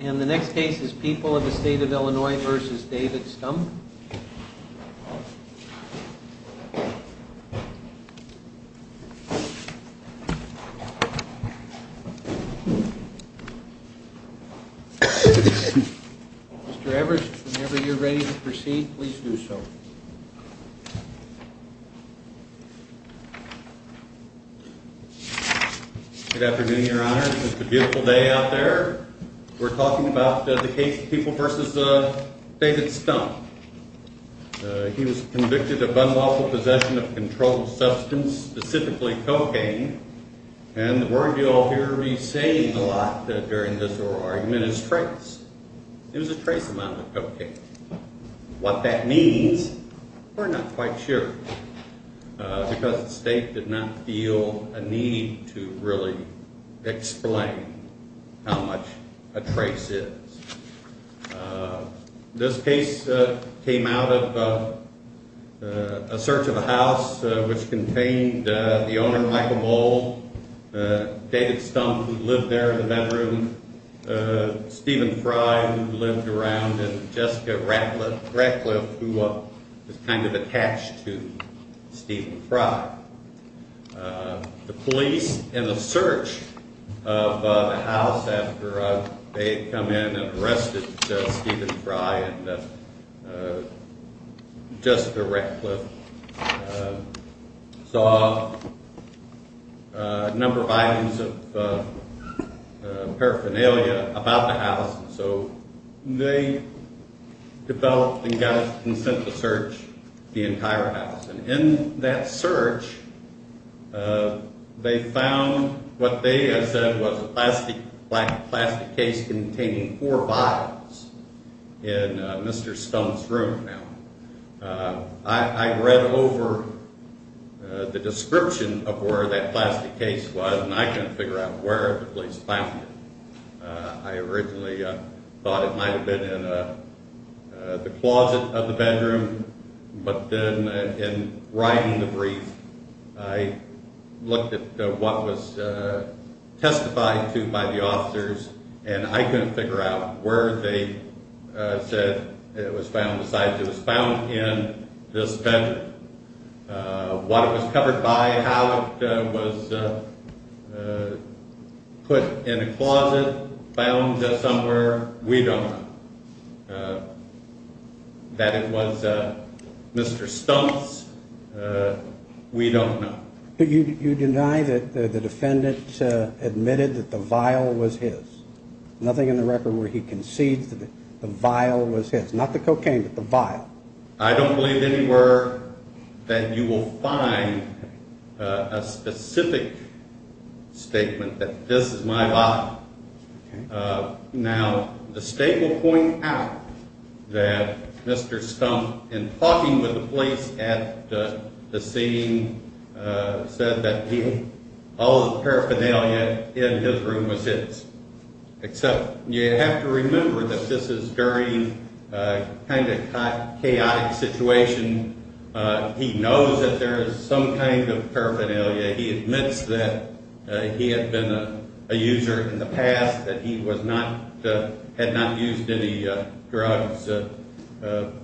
And the next case is People of the State of Illinois v. David Stumpf. Mr. Evers, whenever you're ready to proceed, please do so. Good afternoon, Your Honors. It's a beautiful day out there. We're talking about the case of People v. David Stumpf. He was convicted of unlawful possession of a controlled substance, specifically cocaine. And the word you'll hear me saying a lot during this oral argument is trace. It was a trace amount of cocaine. What that means, we're not quite sure. Because the state did not feel a need to really explain how much a trace is. This case came out of a search of a house which contained the owner, Michael Bull, David Stumpf, who lived there in the bedroom, and Stephen Fry, who lived around, and Jessica Ratcliffe, who was kind of attached to Stephen Fry. The police, in the search of the house after they had come in and arrested Stephen Fry and Jessica Ratcliffe, saw a number of items of paraphernalia about the house. So they developed and sent the search of the entire house. And in that search, they found what they had said was a black plastic case containing four bottles in Mr. Stumpf's room. I read over the description of where that plastic case was, and I couldn't figure out where it was found. I originally thought it might have been in the closet of the bedroom. But then in writing the brief, I looked at what was testified to by the officers, and I couldn't figure out where they said it was found, besides it was found in this bedroom. What it was covered by, how it was put in a closet, found somewhere, we don't know. That it was Mr. Stumpf's, we don't know. But you deny that the defendant admitted that the vial was his. Nothing in the record where he concedes that the vial was his. Not the cocaine, but the vial. I don't believe anywhere that you will find a specific statement that this is my vial. Now, the state will point out that Mr. Stumpf, in talking with the police at the scene, said that all the paraphernalia in his room was his. Except you have to remember that this is during a kind of chaotic situation. He knows that there is some kind of paraphernalia. He admits that he had been a user in the past, that he had not used any drugs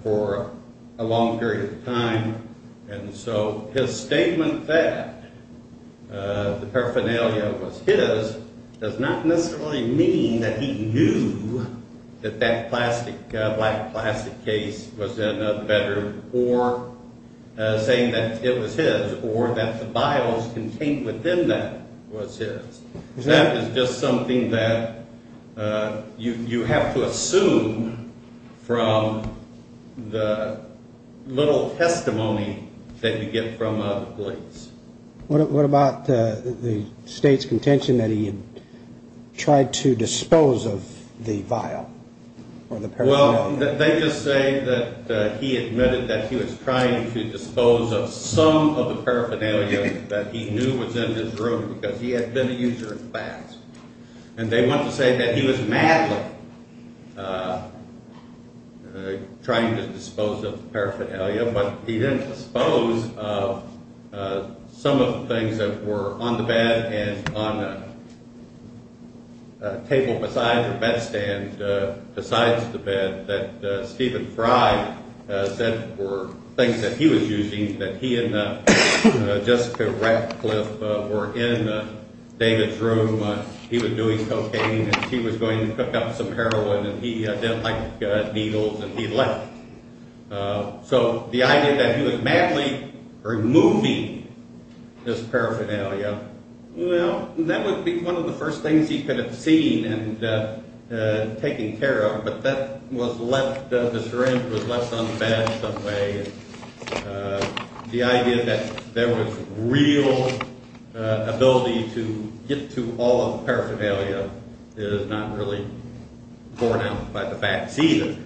for a long period of time. And so his statement that the paraphernalia was his does not necessarily mean that he knew that that black plastic case was in the bedroom, or saying that it was his, or that the vials contained within that was his. That is just something that you have to assume from the little testimony that you get from the police. What about the state's contention that he had tried to dispose of the vial or the paraphernalia? Well, they just say that he admitted that he was trying to dispose of some of the paraphernalia that he knew was in his room because he had been a user in the past. And they want to say that he was madly trying to dispose of the paraphernalia, but he didn't dispose of some of the things that were on the bed and on the table beside the bed stand, besides the bed, that Stephen Fry said were things that he was using, that he and Jessica Ratcliffe were in David's room. He was doing cocaine, and she was going to pick up some heroin, and he didn't like needles, and he left. So the idea that he was madly removing this paraphernalia, well, that would be one of the first things he could have seen and taken care of, but that was left, the syringe was left on the bed some way, and the idea that there was real ability to get to all of the paraphernalia is not really borne out by the facts either.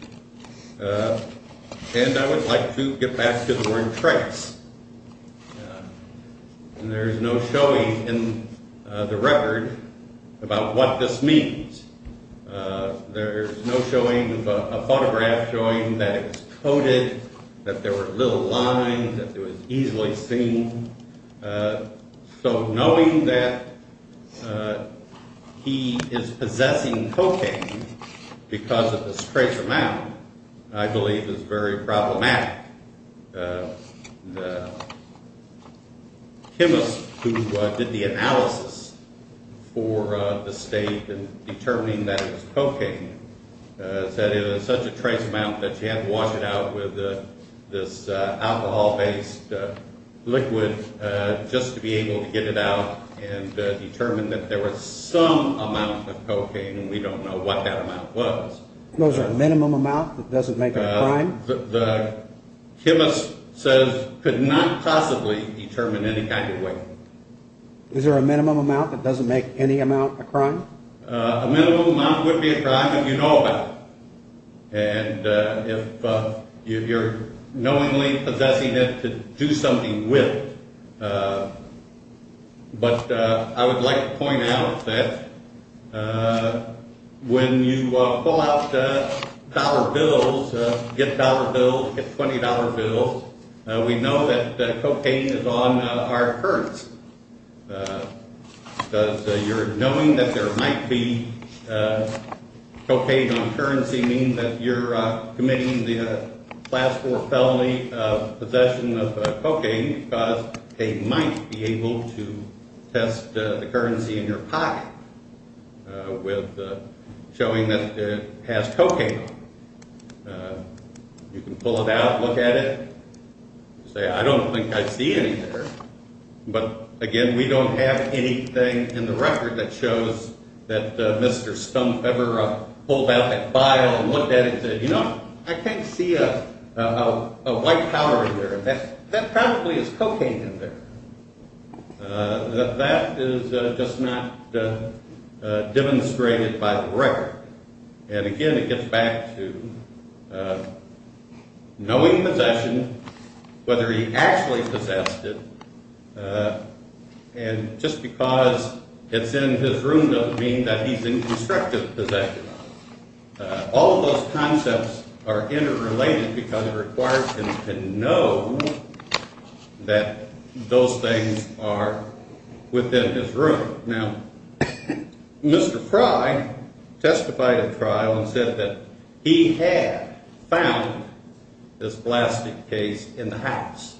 And I would like to get back to the word trace, and there's no showing in the record about what this means. There's no showing of a photograph showing that it was coated, that there were little lines, that it was easily seen. So knowing that he is possessing cocaine because of this trace amount, I believe, is very problematic. The chemist who did the analysis for the state in determining that it was cocaine said it was such a trace amount that she had to wash it out with this alcohol-based liquid just to be able to get it out and determine that there was some amount of cocaine, and we don't know what that amount was. Those are a minimum amount that doesn't make a crime? The chemist says could not possibly determine any kind of way. Is there a minimum amount that doesn't make any amount a crime? A minimum amount would be a crime if you know about it, and if you're knowingly possessing it to do something with it. But I would like to point out that when you pull out dollar bills, get dollar bills, get $20 bills, we know that cocaine is on our currency. Because you're knowing that there might be cocaine on currency means that you're committing the class 4 felony of possession of cocaine because they might be able to test the currency in your pocket with showing that it has cocaine on it. You can pull it out, look at it, and say I don't think I see anything there. But again, we don't have anything in the record that shows that Mr. Stump ever pulled out that file and looked at it and said, you know, I can't see a white powder in there. That probably is cocaine in there. That is just not demonstrated by the record. And again, it gets back to knowing possession, whether he actually possessed it, and just because it's in his room doesn't mean that he's in constructive possession. All of those concepts are interrelated because it requires him to know that those things are within his room. Now, Mr. Fry testified at trial and said that he had found this plastic case in the house.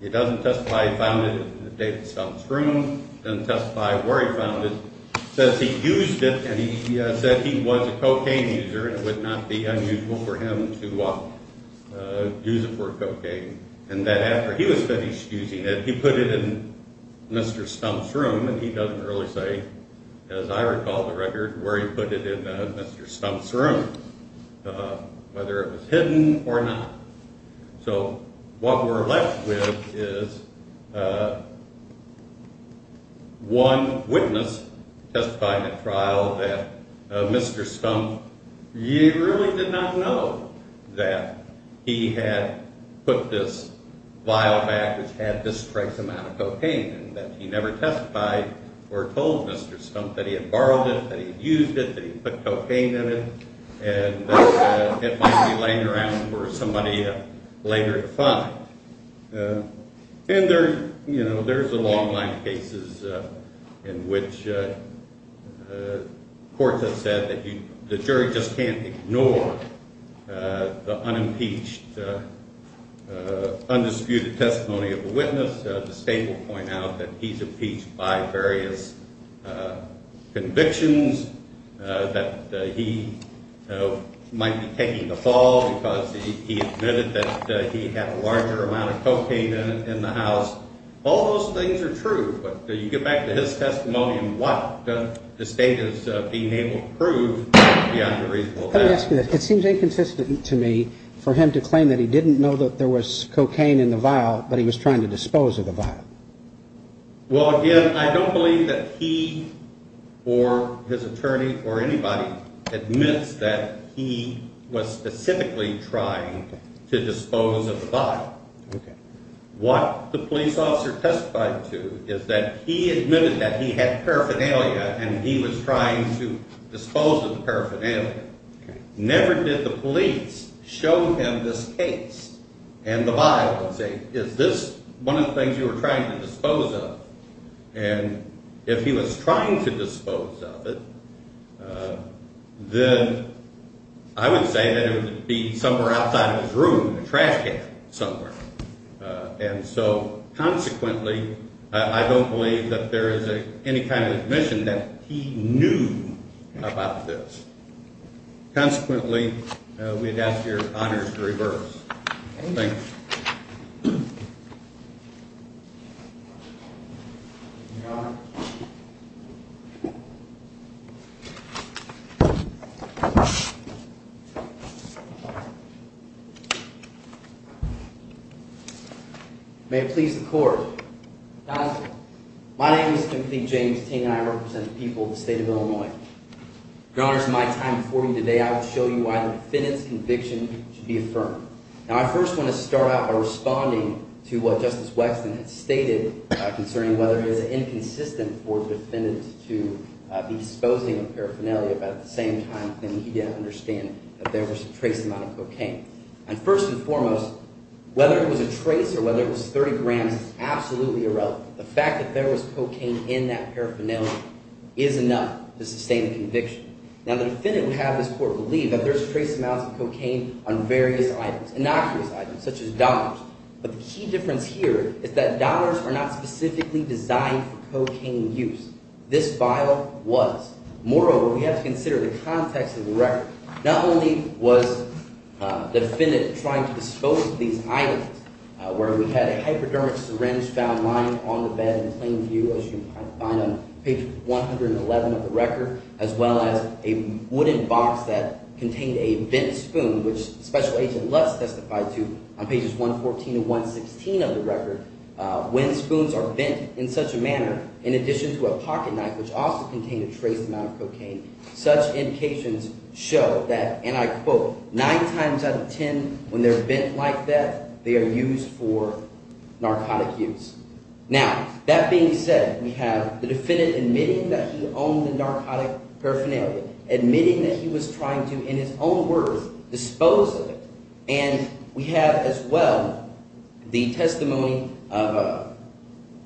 He doesn't testify he found it in David Stump's room. He doesn't testify where he found it. He says he used it and he said he was a cocaine user and it would not be unusual for him to use it for cocaine. And that after he was finished using it, he put it in Mr. Stump's room and he doesn't really say, as I recall the record, where he put it in Mr. Stump's room, whether it was hidden or not. So what we're left with is one witness testified at trial that Mr. Stump really did not know that he had put this vial back which had this great amount of cocaine in it, but he never testified or told Mr. Stump that he had borrowed it, that he had used it, that he had put cocaine in it, and that it might be laying around for somebody later to find. And there's a long line of cases in which courts have said that the jury just can't ignore the unimpeached, undisputed testimony of a witness. The state will point out that he's impeached by various convictions, that he might be taking the fall because he admitted that he had a larger amount of cocaine in the house. All those things are true, but you get back to his testimony and what the state is being able to prove beyond a reasonable doubt. Let me ask you this. It seems inconsistent to me for him to claim that he didn't know that there was cocaine in the vial, but he was trying to dispose of the vial. Well, again, I don't believe that he or his attorney or anybody admits that he was specifically trying to dispose of the vial. What the police officer testified to is that he admitted that he had paraphernalia and he was trying to dispose of the paraphernalia. Never did the police show him this case and the vial and say, is this one of the things you were trying to dispose of? And if he was trying to dispose of it, then I would say that it would be somewhere outside of his room, a trash can somewhere. And so consequently, I don't believe that there is any kind of admission that he knew about this. Consequently, we'd ask your honors to reverse. May it please the court. My name is Timothy James Ting and I represent the people of the state of Illinois. Your honors, in my time before you today, I will show you why the defendant's conviction should be affirmed. Now, I first want to start out by responding to what Justice Wexton had stated concerning whether it was inconsistent for the defendant to be disposing of paraphernalia at the same time that he didn't understand that there was a trace amount of cocaine. And first and foremost, whether it was a trace or whether it was 30 grams is absolutely irrelevant. The fact that there was cocaine in that paraphernalia is enough to sustain the conviction. Now, the defendant would have this court believe that there's trace amounts of cocaine on various items, innocuous items, such as dollars. But the key difference here is that dollars are not specifically designed for cocaine use. This vial was. Moreover, we have to consider the context of the record. Not only was the defendant trying to dispose of these items where we had a hypodermic syringe found lying on the bed in plain view, as you find on page 111 of the record, as well as a wooden box that contained a bent spoon, which Special Agent Lutz testified to on pages 114 and 116 of the record. When spoons are bent in such a manner, in addition to a pocket knife which also contained a trace amount of cocaine, such indications show that, and I quote, nine times out of ten when they're bent like that, they are used for narcotic use. Now, that being said, we have the defendant admitting that he owned the narcotic paraphernalia, admitting that he was trying to, in his own words, dispose of it. And we have as well the testimony of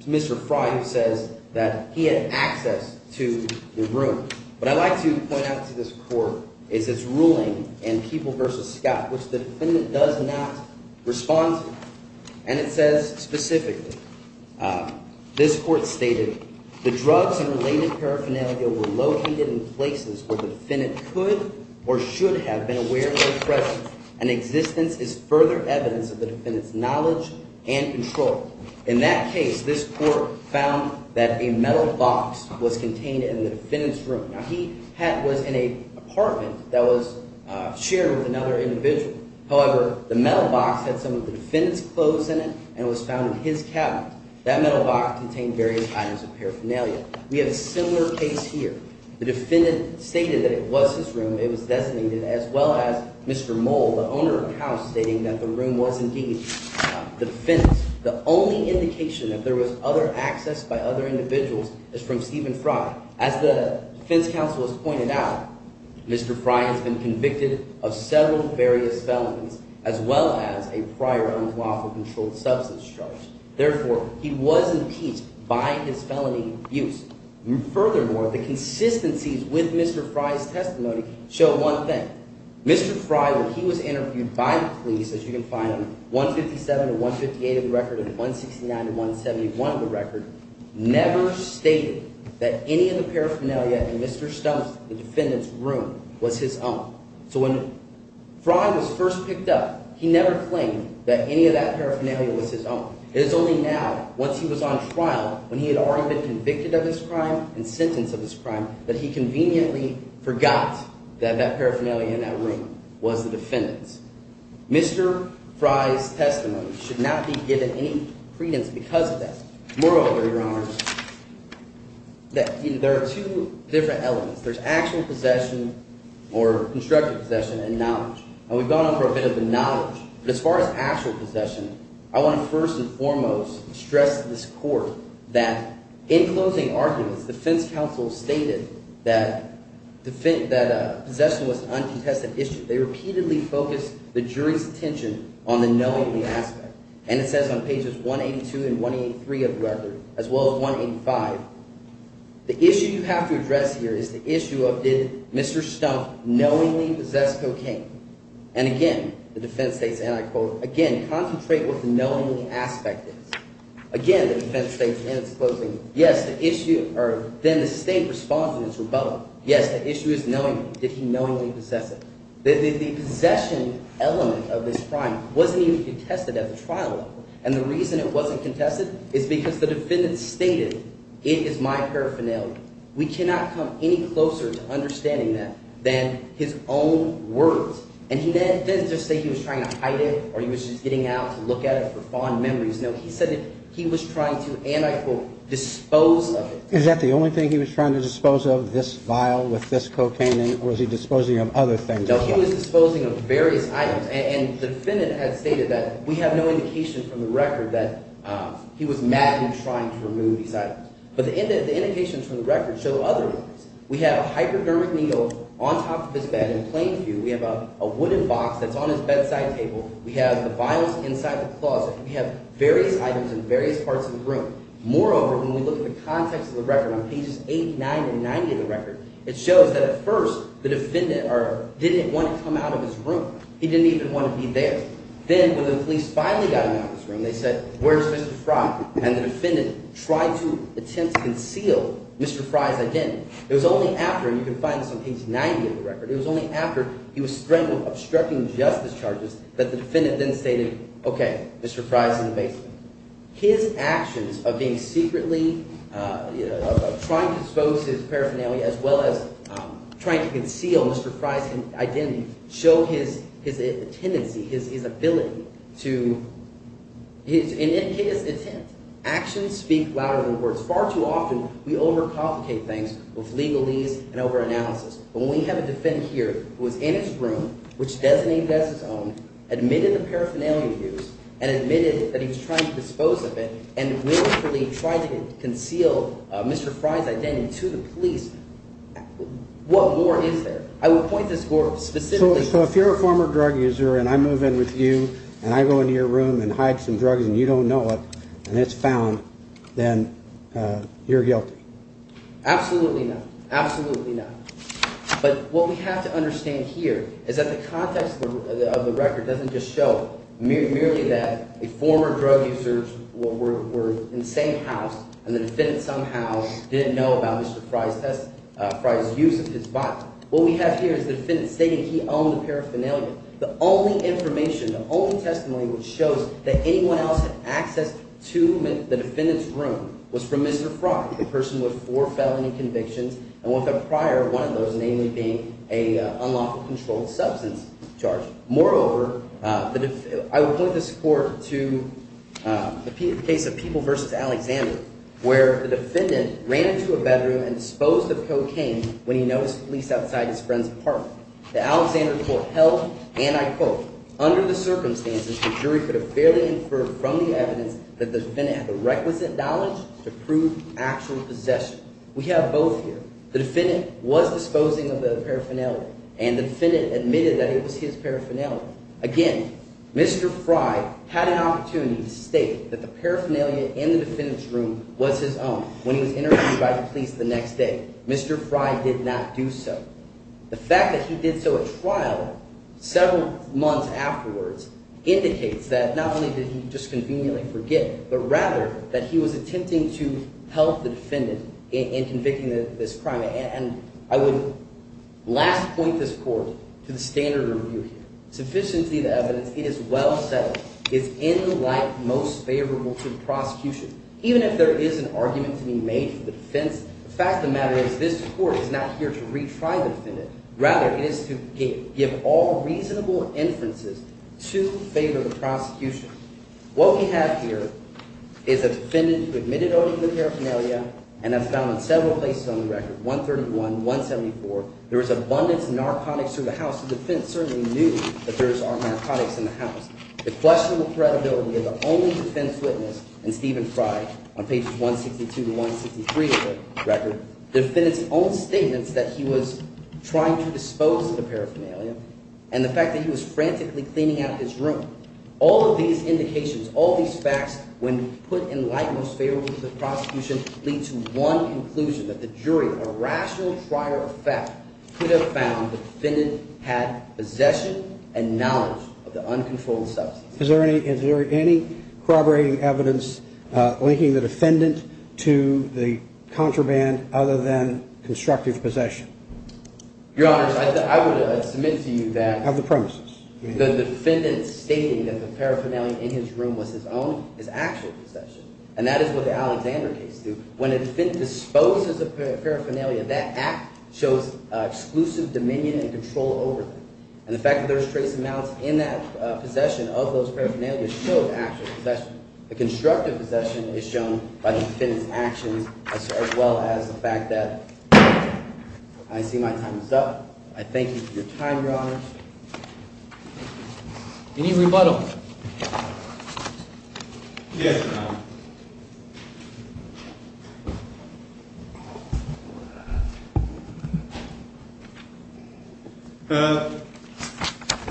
Mr. Fry who says that he had access to the room. What I'd like to point out to this court is its ruling in People v. Scott, which the defendant does not respond to. His existence is further evidence of the defendant's knowledge and control. In that case, this court found that a metal box was contained in the defendant's room. Now, he was in an apartment that was shared with another individual. However, the metal box had some of the defendant's clothes in it and was found in his cabinet. That metal box contained various items of paraphernalia. We have a similar case here. The defendant stated that it was his room. It was designated as well as Mr. Mole, the owner of the house, stating that the room was indeed the defense. The only indication that there was other access by other individuals is from Stephen Fry. As the defense counsel has pointed out, Mr. Fry has been convicted of several various felonies as well as a prior unlawful controlled substance charge. Therefore, he was impeached by his felony abuse. Furthermore, the consistencies with Mr. Fry's testimony show one thing. Mr. Fry, when he was interviewed by the police, as you can find on 157 and 158 of the record and 169 and 171 of the record, never stated that any of the paraphernalia in Mr. Stumps, the defendant's room, was his own. So when Fry was first picked up, he never claimed that any of that paraphernalia was his own. It is only now, once he was on trial, when he had already been convicted of his crime and sentenced of his crime, that he conveniently forgot that that paraphernalia in that room was the defendant's. Mr. Fry's testimony should not be given any credence because of that. Moreover, Your Honor, there are two different elements. There's actual possession or constructed possession and knowledge. And we've gone over a bit of the knowledge. But as far as actual possession, I want to first and foremost stress to this court that, in closing arguments, defense counsel stated that possession was an uncontested issue. They repeatedly focused the jury's attention on the knowingly aspect. And it says on pages 182 and 183 of the record, as well as 185, the issue you have to address here is the issue of did Mr. Stump knowingly possess cocaine? And again, the defense states, and I quote, again, concentrate what the knowingly aspect is. Again, the defense states in its closing, yes, the issue – or then the state responds in its rebuttal. Yes, the issue is knowingly. Did he knowingly possess it? The possession element of this crime wasn't even contested at the trial level. And the reason it wasn't contested is because the defendant stated it is my paraphernalia. We cannot come any closer to understanding that than his own words. And he didn't just say he was trying to hide it or he was just getting out to look at it for fond memories. No, he said he was trying to, and I quote, dispose of it. Is that the only thing he was trying to dispose of, this vial with this cocaine in it, or was he disposing of other things? No, he was disposing of various items. And the defendant has stated that we have no indication from the record that he was madly trying to remove these items. But the indications from the record show other things. We have a hypodermic needle on top of his bed in plain view. We have a wooden box that's on his bedside table. We have the vials inside the closet. We have various items in various parts of the room. Moreover, when we look at the context of the record on pages 8, 9, and 90 of the record, it shows that at first the defendant didn't want to come out of his room. He didn't even want to be there. Then when the police finally got him out of his room, they said, where's Mr. Frye? And the defendant tried to attempt to conceal Mr. Frye's identity. It was only after – and you can find this on page 90 of the record – it was only after he was stricken with obstructing justice charges that the defendant then stated, okay, Mr. Frye's in the basement. His actions of being secretly – of trying to expose his paraphernalia as well as trying to conceal Mr. Frye's identity show his tendency, his ability to – and his intent. Actions speak louder than words. Far too often we overcomplicate things with legalese and overanalysis. But when we have a defendant here who was in his room, which designated as his own, admitted the paraphernalia use, and admitted that he was trying to dispose of it, and willfully tried to conceal Mr. Frye's identity to the police, what more is there? I will point this more specifically. So if you're a former drug user and I move in with you and I go into your room and hide some drugs and you don't know it and it's found, then you're guilty? Absolutely not. Absolutely not. But what we have to understand here is that the context of the record doesn't just show merely that a former drug user were in the same house, and the defendant somehow didn't know about Mr. Frye's use of his body. What we have here is the defendant stating he owned the paraphernalia. The only information, the only testimony which shows that anyone else had access to the defendant's room was from Mr. Frye, the person with four felony convictions and one of the prior, one of those namely being an unlawful controlled substance charge. Moreover, I would point this court to the case of People v. Alexander, where the defendant ran into a bedroom and disposed of cocaine when he noticed police outside his friend's apartment. The Alexander court held, and I quote, under the circumstances, the jury could have fairly inferred from the evidence that the defendant had the requisite knowledge to prove actual possession. We have both here. The defendant was disposing of the paraphernalia, and the defendant admitted that it was his paraphernalia. Again, Mr. Frye had an opportunity to state that the paraphernalia in the defendant's room was his own when he was interviewed by the police the next day. Mr. Frye did not do so. The fact that he did so at trial several months afterwards indicates that not only did he just conveniently forget, but rather that he was attempting to help the defendant in convicting this crime. And I would last point this court to the standard review here. Sufficiently the evidence, it is well settled. It's in the light most favorable to the prosecution. Even if there is an argument to be made for the defense, the fact of the matter is this court is not here to retry the defendant. Rather, it is to give all reasonable inferences to favor the prosecution. What we have here is a defendant who admitted owning the paraphernalia, and as found in several places on the record, 131, 174, there was abundance of narcotics through the house. The defense certainly knew that there was narcotics in the house. The questionable credibility of the only defense witness in Stephen Frye on pages 162 to 163 of the record, the defendant's own statements that he was trying to dispose of the paraphernalia and the fact that he was frantically cleaning out his room. All of these indications, all these facts, when put in light most favorable to the prosecution, lead to one conclusion, that the jury, a rational trier of fact, could have found the defendant had possession and knowledge of the uncontrolled substance. Is there any corroborating evidence linking the defendant to the contraband other than constructive possession? Your Honors, I would submit to you that… Have the premises. The defendant stating that the paraphernalia in his room was his own is actual possession, and that is what the Alexander case did. When a defendant disposes of paraphernalia, that act shows exclusive dominion and control over it. And the fact that there's trace amounts in that possession of those paraphernalia shows actual possession. The constructive possession is shown by the defendant's actions as well as the fact that… I see my time is up. I thank you for your time, Your Honors. Any rebuttals? Yes, Your Honor.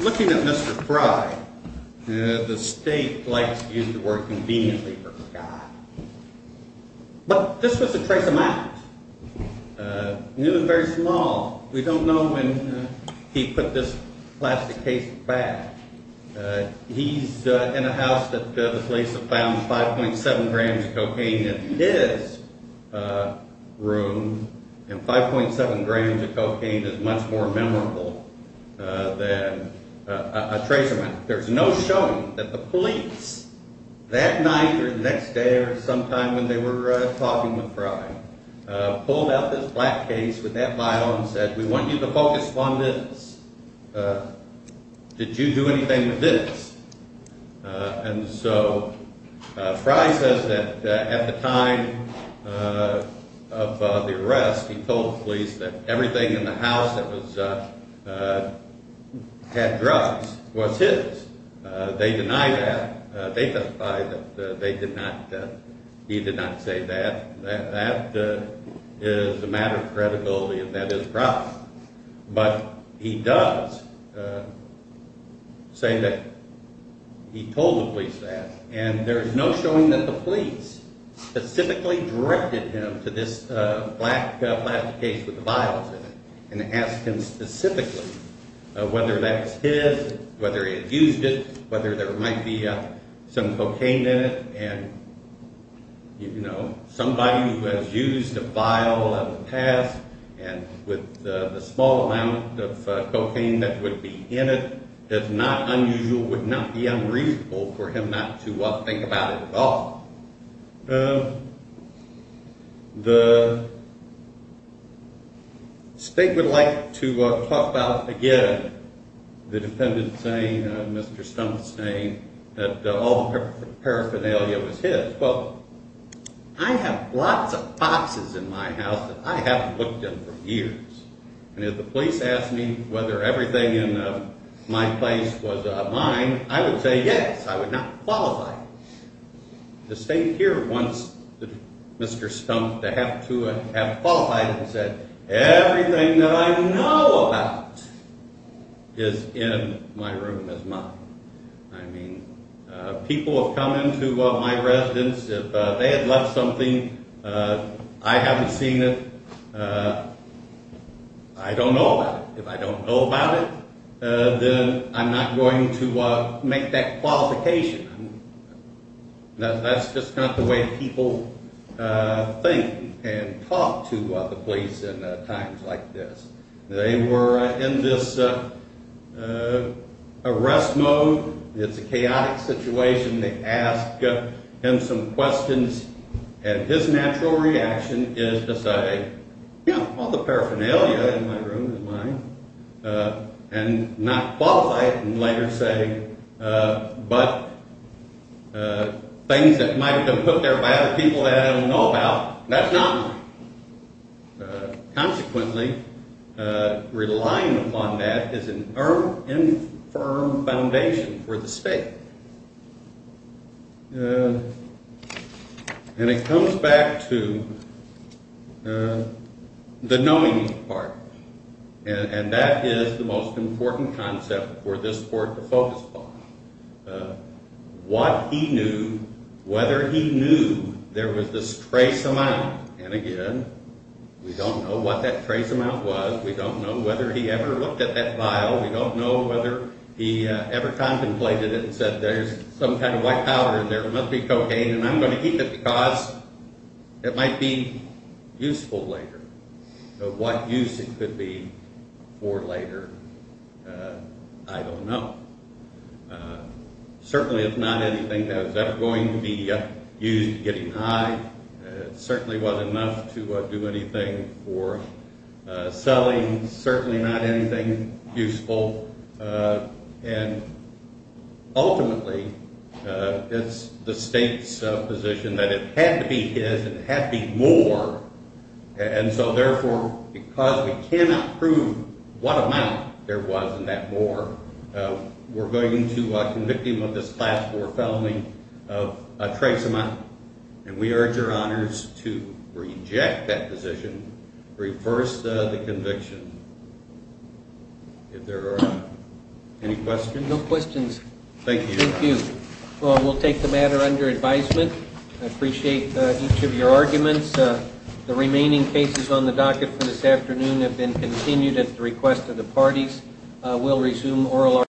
Looking at Mr. Frye, the State likes to use the word conveniently for a guy. But this was a trace amount, new and very small. We don't know when he put this plastic case back. He's in a house that the police have found 5.7 grams of cocaine in his room, and 5.7 grams of cocaine is much more memorable than a trace amount. There's no showing that the police that night or the next day or sometime when they were talking with Frye pulled out this black case with that bottle and said, We want you to focus on this. Did you do anything with this? And so Frye says that at the time of the arrest, he told the police that everything in the house that had drugs was his. They deny that. They testify that he did not say that. That is a matter of credibility, and that is a problem. But he does say that he told the police that, and there's no showing that the police specifically directed him to this black plastic case with the vials in it and asked him specifically whether that was his, whether he had used it, whether there might be some cocaine in it, and somebody who has used a vial in the past and with the small amount of cocaine that would be in it, it's not unusual, it would not be unreasonable for him not to think about it at all. The state would like to talk about, again, the defendant saying, Mr. Stump saying that all the paraphernalia was his. Well, I have lots of boxes in my house that I haven't looked in for years. And if the police asked me whether everything in my place was mine, I would say yes. I would not qualify. The state here wants Mr. Stump to have to have qualified and said everything that I know about is in my room as mine. I mean, people have come into my residence. If they had left something, I haven't seen it, I don't know about it. If I don't know about it, then I'm not going to make that qualification. That's just not the way people think and talk to the police in times like this. They were in this arrest mode. It's a chaotic situation. They ask him some questions, and his natural reaction is to say, yeah, all the paraphernalia in my room is mine, and not qualify it and later say, but things that might have been put there by other people that I don't know about, that's not mine. Consequently, relying upon that is an infirm foundation for the state. And it comes back to the knowing part. And that is the most important concept for this court to focus upon. What he knew, whether he knew there was this trace amount, and again, we don't know what that trace amount was. We don't know whether he ever looked at that file. We don't know whether he ever contemplated it and said there's some kind of white powder in there. It must be cocaine, and I'm going to keep it because it might be useful later. What use it could be for later, I don't know. Certainly it's not anything that was ever going to be used getting high. It certainly wasn't enough to do anything for selling. Certainly not anything useful. And ultimately, it's the state's position that it had to be his. It had to be more. And so, therefore, because we cannot prove what amount there was in that more, we're going to convict him of this Class IV felony of a trace amount. And we urge your honors to reject that position, reverse the conviction. If there are any questions. No questions. Thank you. Thank you. We'll take the matter under advisement. I appreciate each of your arguments. The remaining cases on the docket for this afternoon have been continued at the request of the parties. We'll resume oral arguments.